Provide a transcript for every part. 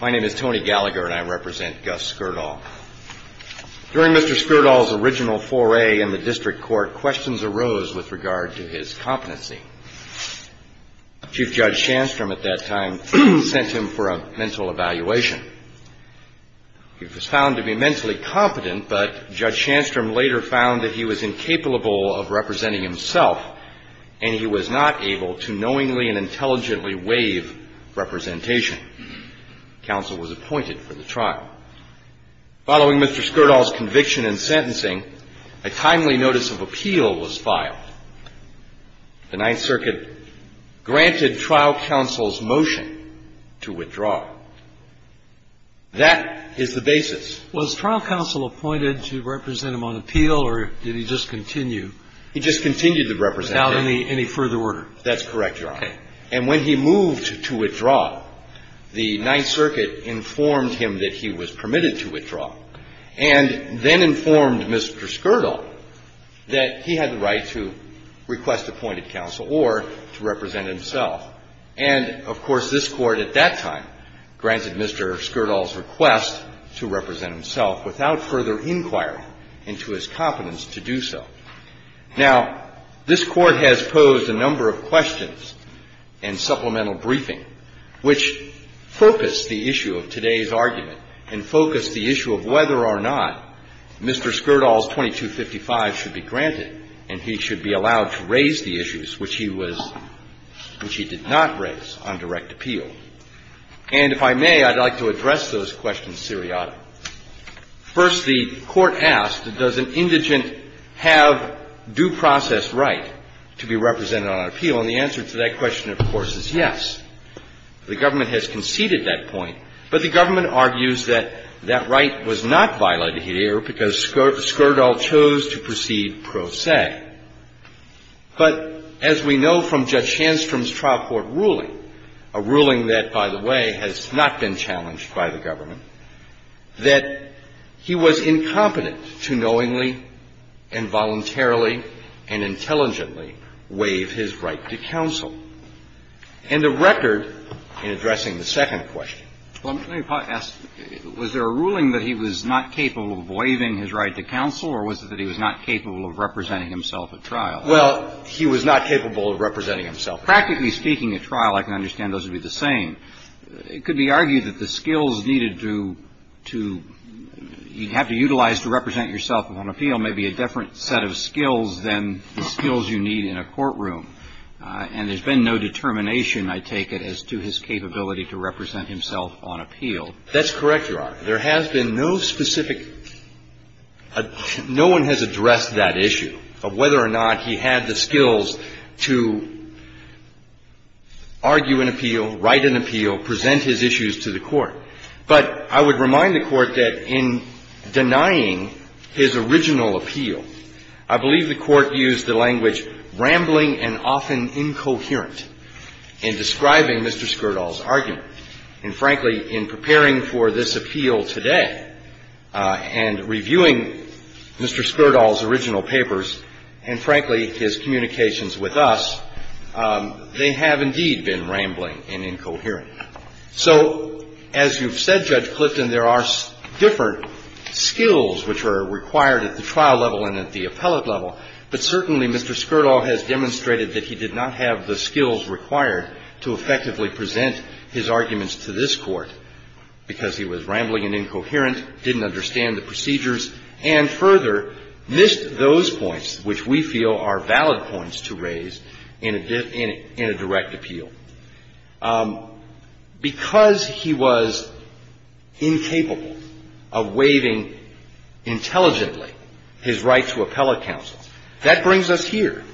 My name is Tony Gallagher and I represent Gus Skurdal. During Mr. Skurdal's original foray in the district court, questions arose with regard to his competency. Chief Judge Shandstrom at that time sent him for a mental evaluation. He was found to be mentally competent, but Judge Shandstrom later found that he was incapable of representing himself and he was not able to knowingly and intelligently waive representation. Counsel was appointed for the trial. Following Mr. Skurdal's conviction and sentencing, a timely notice of appeal was filed. The Ninth Circuit granted trial counsel's motion to withdraw. That is the basis. Was trial counsel appointed to represent him on appeal or did he just continue? He just continued the representation. Without any further order? That's correct, Your Honor. Okay. And when he moved to withdraw, the Ninth Circuit informed him that he was permitted to withdraw and then informed Mr. Skurdal that he had the right to request appointed counsel or to represent himself. And, of course, this Court at that time granted Mr. Skurdal's request to represent Now, this Court has posed a number of questions and supplemental briefing which focused the issue of today's argument and focused the issue of whether or not Mr. Skurdal's 2255 should be granted and he should be allowed to raise the issues which he was – which he did not raise on direct appeal. And if I may, I'd like to address those questions seriatically. First, the Court asked, does an indigent have due process right to be represented on appeal? And the answer to that question, of course, is yes. The government has conceded that point, but the government argues that that right was not violated here because Skurdal chose to proceed pro se. But as we know from Judge Shandstrom's trial court ruling, a ruling that, by the way, has not been challenged by the government, that he was incompetent to knowingly and voluntarily and intelligently waive his right to counsel. And the record in addressing the second question. Well, let me ask, was there a ruling that he was not capable of waiving his right to counsel, or was it that he was not capable of representing himself at trial? Well, he was not capable of representing himself. Practically speaking, at trial, I can understand those to be the same. It could be argued that the skills needed to – you have to utilize to represent yourself on appeal may be a different set of skills than the skills you need in a courtroom. And there's been no determination, I take it, as to his capability to represent himself on appeal. That's correct, Your Honor. There has been no specific – no one has addressed that issue, of whether or not he had the skills to argue an appeal, write an appeal, present his issues to the Court. But I would remind the Court that in denying his original appeal, I believe the Court used the language, rambling and often incoherent, in describing Mr. Skirdal's argument. And, frankly, in preparing for this appeal today and reviewing Mr. Skirdal's arguments and his communications with us, they have indeed been rambling and incoherent. So as you've said, Judge Clifton, there are different skills which are required at the trial level and at the appellate level. But certainly Mr. Skirdal has demonstrated that he did not have the skills required to effectively present his arguments to this Court because he was rambling and incoherent, didn't understand the procedures, and, further, missed those points which we feel are valid points to raise in a direct appeal. Because he was incapable of waiving intelligently his right to appellate counsel, that brings us here.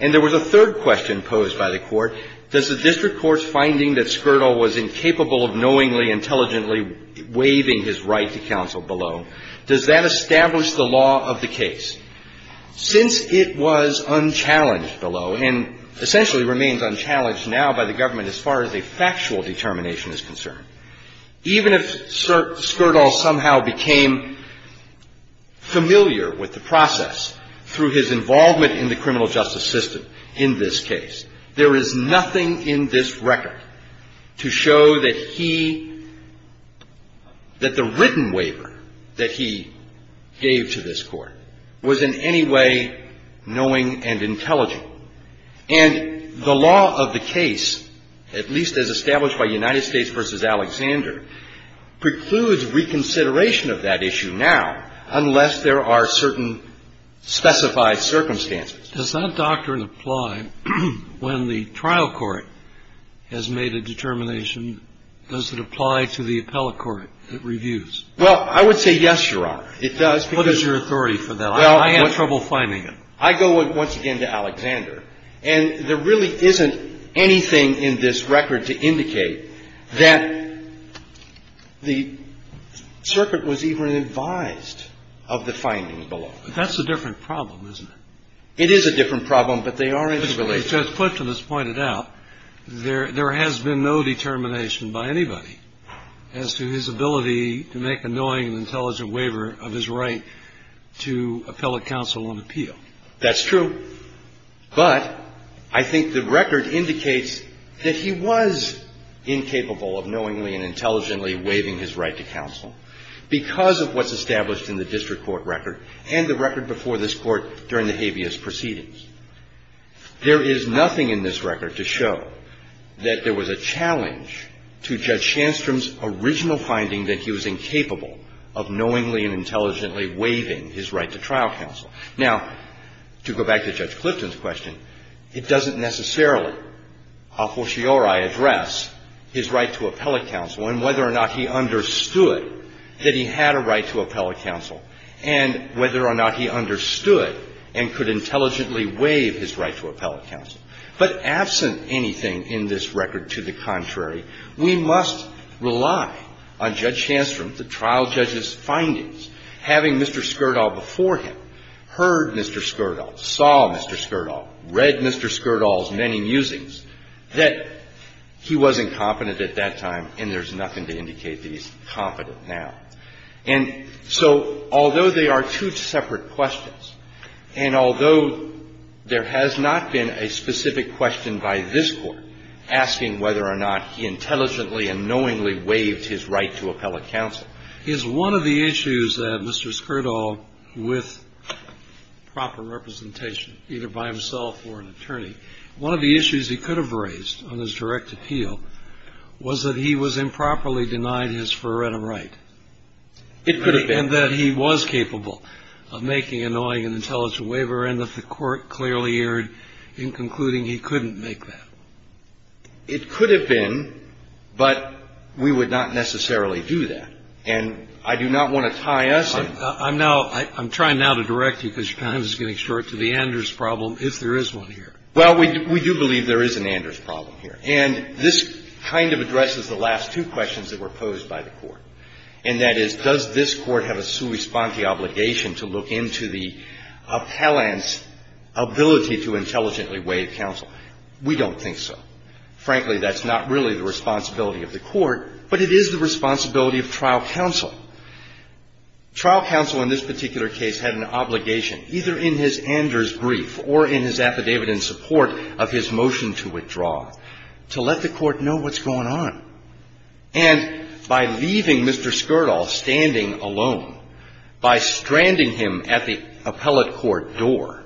And there was a third question posed by the Court. Does the district court's finding that Skirdal was incapable of knowingly, intelligently waiving his right to counsel below, does that establish the law of the case? Since it was unchallenged below, and essentially remains unchallenged now by the government as far as a factual determination is concerned, even if Skirdal somehow became familiar with the process through his involvement in the criminal justice system in this case, there is nothing in this record to show that he, that the written waiver that he gave to this Court was in any way knowing and intelligent. And the law of the case, at least as established by United States v. Alexander, precludes reconsideration of that issue now unless there are certain specified circumstances. Kennedy. Does that doctrine apply when the trial court has made a determination? Does it apply to the appellate court that reviews? Well, I would say yes, Your Honor, it does. What is your authority for that? I have trouble finding it. I go once again to Alexander. And there really isn't anything in this record to indicate that the circuit was even advised of the findings below. That's a different problem, isn't it? It is a different problem, but they are interrelated. Judge Clifton has pointed out there has been no determination by anybody as to his ability to make a knowing and intelligent waiver of his right to appellate counsel on appeal. That's true. But I think the record indicates that he was incapable of knowingly and intelligently waiving his right to counsel because of what's established in the district court record and the record before this Court during the habeas proceedings. There is nothing in this record to show that there was a challenge to Judge Shandstrom's original finding that he was incapable of knowingly and intelligently waiving his right to trial counsel. Now, to go back to Judge Clifton's question, it doesn't necessarily a fortiori address his right to appellate counsel and whether or not he understood that he had a right to appellate counsel. And whether or not he understood and could intelligently waive his right to appellate counsel. But absent anything in this record to the contrary, we must rely on Judge Shandstrom, the trial judge's findings, having Mr. Skirdal before him, heard Mr. Skirdal, saw Mr. Skirdal, read Mr. Skirdal's many musings, that he wasn't competent at that time, and there's nothing to indicate that he's competent now. And so, although they are two separate questions, and although there has not been a specific question by this Court asking whether or not he intelligently and knowingly waived his right to appellate counsel, is one of the issues that Mr. Skirdal, with proper representation either by himself or an attorney, one of the issues on his direct appeal was that he was improperly denied his forerunner right. And that he was capable of making a knowing and intelligent waiver, and that the Court clearly erred in concluding he couldn't make that. It could have been, but we would not necessarily do that. And I do not want to tie us in. I'm now – I'm trying now to direct you, because your time is getting short, to the Anders problem, if there is one here. Well, we do believe there is an Anders problem here. And this kind of addresses the last two questions that were posed by the Court. And that is, does this Court have a sui sponte obligation to look into the appellant's ability to intelligently waive counsel? We don't think so. Frankly, that's not really the responsibility of the Court, but it is the responsibility of trial counsel. Trial counsel in this particular case had an obligation, either in his Anders brief or in his affidavit in support of his motion to withdraw, to let the Court know what's going on. And by leaving Mr. Skirdal standing alone, by stranding him at the appellate court door,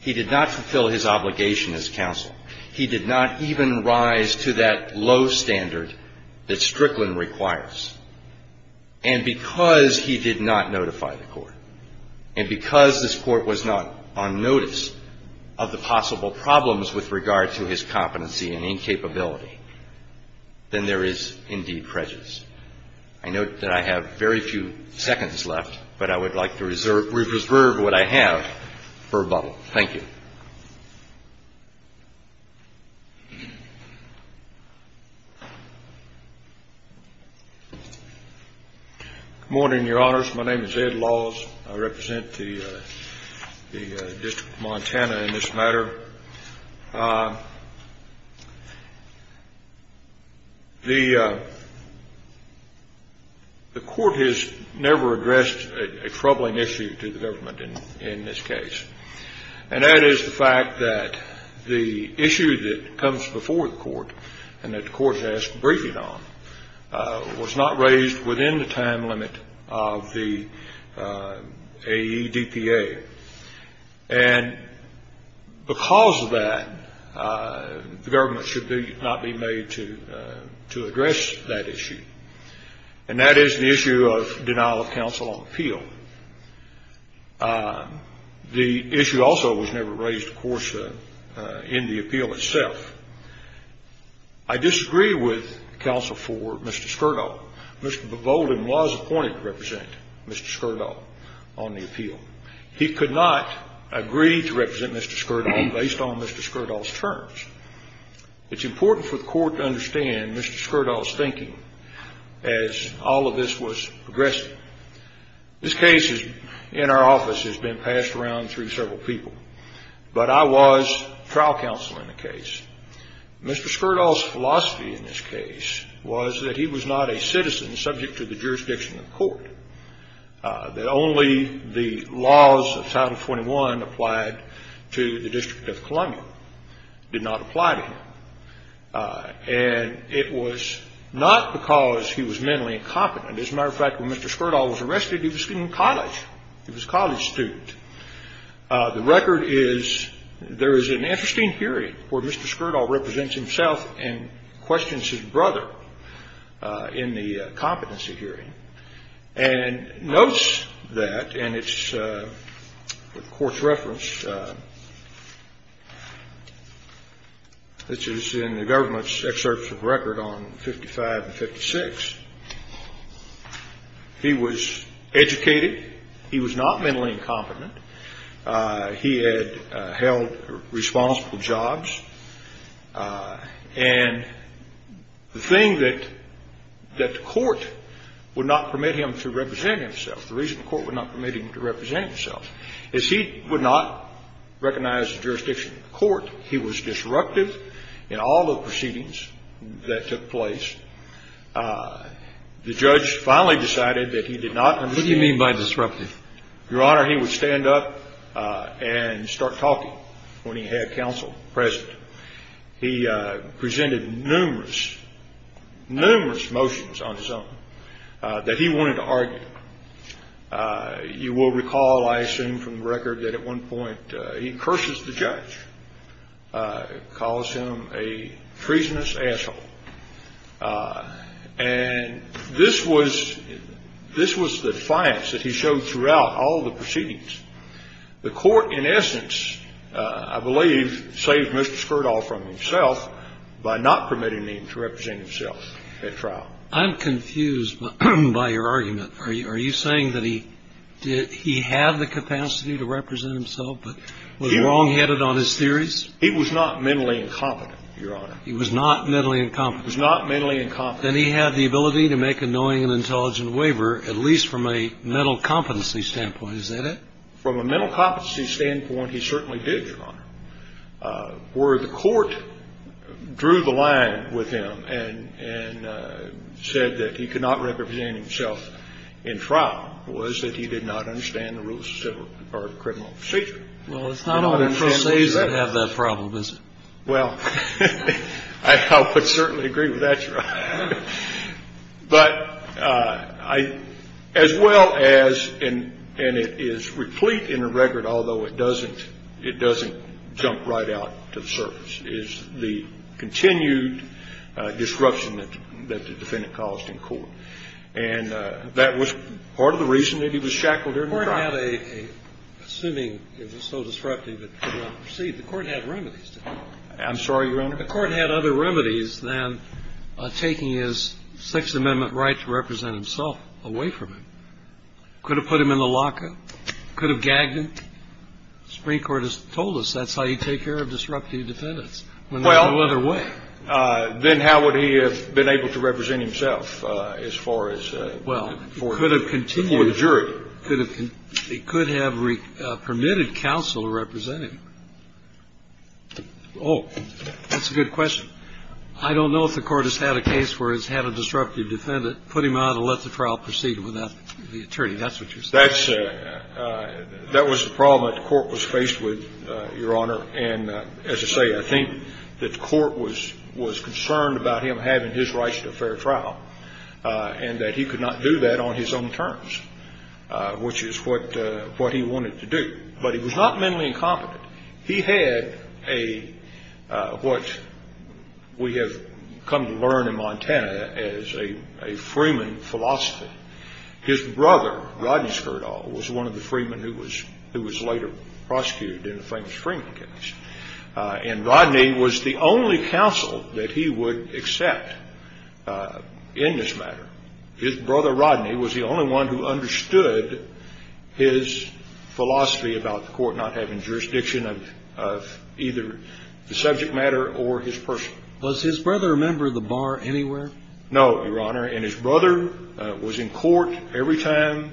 he did not fulfill his obligation as counsel. He did not even rise to that low standard that Strickland requires. And because he did not notify the Court, and because this Court was not on notice of the possible problems with regard to his competency and incapability, then there is indeed prejudice. I note that I have very few seconds left, but I would like to reserve what I have for rebuttal. Thank you. Good morning, Your Honors. My name is Ed Laws. I represent the District of Montana in this matter. The Court has never addressed a troubling issue to the government in this case. And that is the fact that the issue that comes before the Court and that the Court has asked a briefing on was not raised within the time limit of the AEDPA. And because of that, the government should not be made to address that issue. And that is the issue of denial of counsel on appeal. The issue also was never raised, of course, in the appeal itself. I disagree with counsel for Mr. Skirdal. Mr. Bevolden was appointed to represent Mr. Skirdal on the appeal. He could not agree to represent Mr. Skirdal based on Mr. Skirdal's terms. It's important for the Court to understand Mr. Skirdal's thinking as all of this was progressing. This case in our office has been passed around through several people. But I was trial counsel in the case. Mr. Skirdal's philosophy in this case was that he was not a citizen subject to the jurisdiction of the Court, that only the laws of Title 21 applied to the District of Columbia did not apply to him. And it was not because he was mentally incompetent. As a matter of fact, when Mr. Skirdal was arrested, he was in college. He was a college student. The record is there is an interesting hearing where Mr. Skirdal represents himself and questions his brother in the competency hearing and notes that, and it's the Court's reference, which is in the government's excerpts of the record on 55 and 56. He was educated. He was not mentally incompetent. He had held responsible jobs. And the thing that the Court would not permit him to represent himself, the reason the Court would not permit him to represent himself is he would not recognize the jurisdiction of the Court. He was disruptive in all the proceedings that took place. The judge finally decided that he did not understand. What do you mean by disruptive? Your Honor, he would stand up and start talking when he had counsel present. He presented numerous, numerous motions on his own that he wanted to argue. You will recall, I assume from the record, that at one point he curses the judge, calls him a treasonous asshole. And this was the defiance that he showed throughout all the proceedings. The Court, in essence, I believe, saved Mr. Skirdal from himself by not permitting him to represent himself at trial. I'm confused by your argument. Are you saying that he had the capacity to represent himself but was wrongheaded on his theories? He was not mentally incompetent, Your Honor. He was not mentally incompetent. He was not mentally incompetent. Then he had the ability to make a knowing and intelligent waiver, at least from a mental competency standpoint. Is that it? From a mental competency standpoint, he certainly did, Your Honor. Where the Court drew the line with him and said that he could not represent himself in trial was that he did not understand the rules of civil or criminal procedure. Well, it's not only pro se's that have that problem, is it? Well, I would certainly agree with that, Your Honor. But as well as, and it is replete in the record, although it doesn't jump right out to the surface, is the continued disruption that the defendant caused in court. And that was part of the reason that he was shackled during the trial. The Court had a, assuming it was so disruptive that it could not proceed, the Court had remedies to that. I'm sorry, Your Honor? The Court had other remedies than taking his Sixth Amendment right to represent himself away from him. Could have put him in the locker. Could have gagged him. The Supreme Court has told us that's how you take care of disruptive defendants when there's no other way. Well, then how would he have been able to represent himself as far as before the jury? It could have permitted counsel to represent him. Oh, that's a good question. I don't know if the Court has had a case where it's had a disruptive defendant, put him out and let the trial proceed without the attorney. That's what you're saying. That was the problem that the Court was faced with, Your Honor. And as I say, I think that the Court was concerned about him having his rights to a fair trial and that he could not do that on his own terms. Which is what he wanted to do. But he was not mentally incompetent. He had what we have come to learn in Montana as a freeman philosophy. His brother, Rodney Skirdal, was one of the freemen who was later prosecuted in the famous Freeman case. And Rodney was the only counsel that he would accept in this matter. His brother, Rodney, was the only one who understood his philosophy about the Court not having jurisdiction of either the subject matter or his person. Was his brother a member of the bar anywhere? No, Your Honor. And his brother was in court every time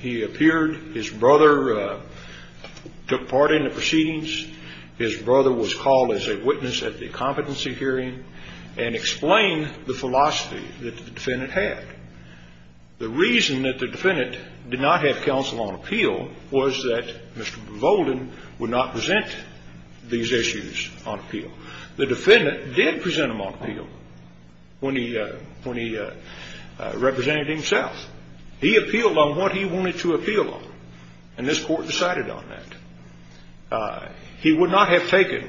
he appeared. His brother took part in the proceedings. His brother was called as a witness at the competency hearing and explained the philosophy that the defendant had. The reason that the defendant did not have counsel on appeal was that Mr. Volden would not present these issues on appeal. The defendant did present them on appeal when he represented himself. He appealed on what he wanted to appeal on. And this Court decided on that. He would not have taken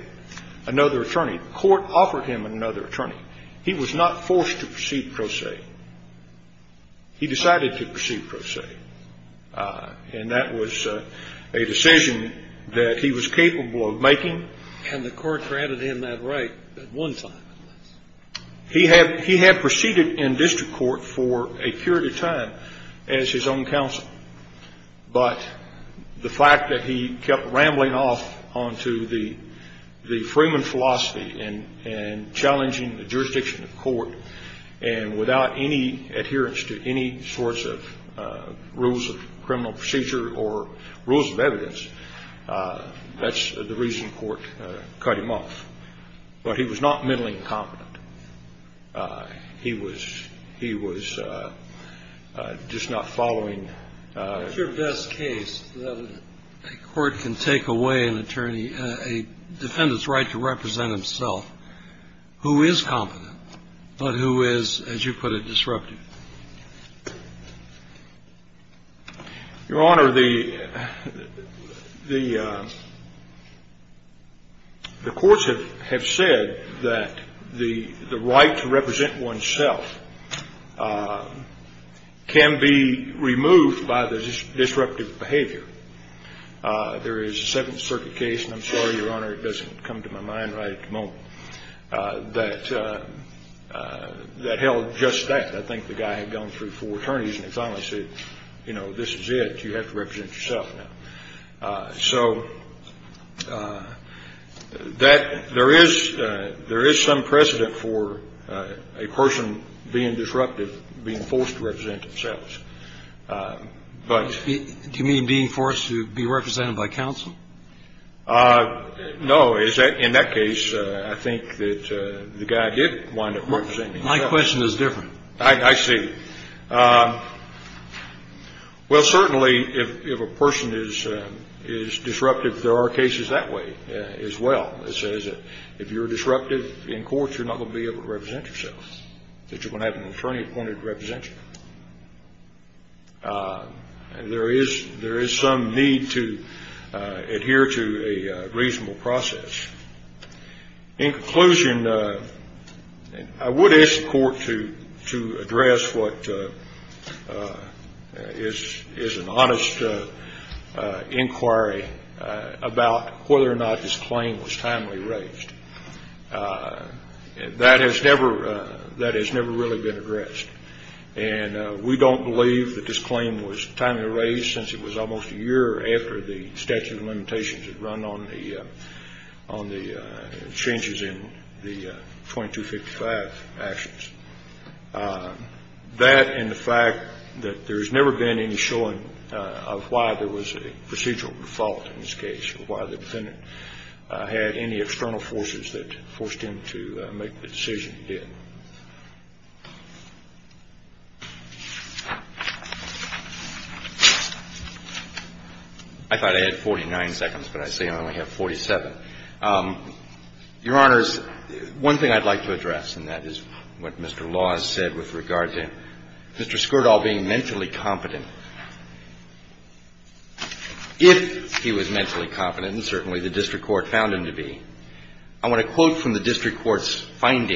another attorney. The Court offered him another attorney. He was not forced to proceed pro se. He decided to proceed pro se. And that was a decision that he was capable of making. And the Court granted him that right at one time. He had proceeded in district court for a period of time as his own counsel. But the fact that he kept rambling off onto the Freeman philosophy and challenging the jurisdiction of court and without any adherence to any sorts of rules of criminal procedure or rules of evidence, that's the reason the Court cut him off. But he was not mentally incompetent. He was just not following. It's your best case that a court can take away an attorney, a defendant's right to represent himself, who is competent but who is, as you put it, disruptive. Your Honor, the courts have said that the right to represent oneself can be removed by the disruptive behavior. There is a Seventh Circuit case, and I'm sorry, Your Honor, it doesn't come to my mind right at the moment, that held just that. I think the guy had gone through four attorneys, and he finally said, you know, this is it. You have to represent yourself now. So there is some precedent for a person being disruptive, being forced to represent themselves. Do you mean being forced to be represented by counsel? No. In that case, I think that the guy did wind up representing himself. My question is different. I see. Well, certainly if a person is disruptive, there are cases that way as well. It says that if you're disruptive in court, you're not going to be able to represent yourself, that you're going to have an attorney appointed to represent you. There is some need to adhere to a reasonable process. In conclusion, I would ask the Court to address what is an honest inquiry about whether or not this claim was timely raised. That has never really been addressed. And we don't believe that this claim was timely raised since it was almost a year after the statute of limitations had run on the changes in the 2255 actions. That and the fact that there has never been any showing of why there was a procedural default in this case, or why the defendant had any external forces that forced him to make the decision he did. I thought I had 49 seconds, but I see I only have 47. Your Honors, one thing I'd like to address, and that is what Mr. Laws said with regard to Mr. Skirdahl being mentally competent. If he was mentally competent, and certainly the district court found him to be, I want to quote from the district court's And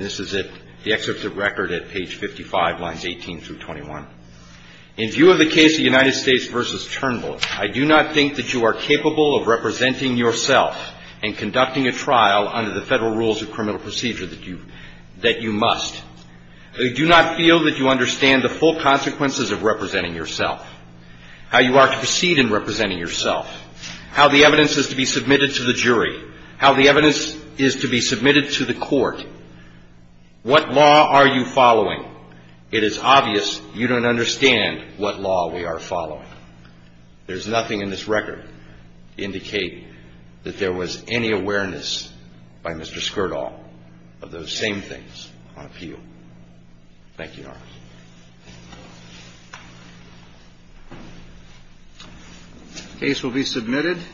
this is it, the excerpt of the record at page 55, lines 18 through 21. In view of the case of United States v. Turnbull, I do not think that you are capable of representing yourself and conducting a trial under the federal rules of criminal procedure that you must. I do not feel that you understand the full consequences of representing yourself, how you are to proceed in representing yourself, how the evidence is to be submitted to the jury, how the evidence is to be submitted to the court. What law are you following? It is obvious you don't understand what law we are following. There's nothing in this record to indicate that there was any awareness by Mr. Skirdahl of those same things on appeal. Thank you, Your Honor. The case will be submitted.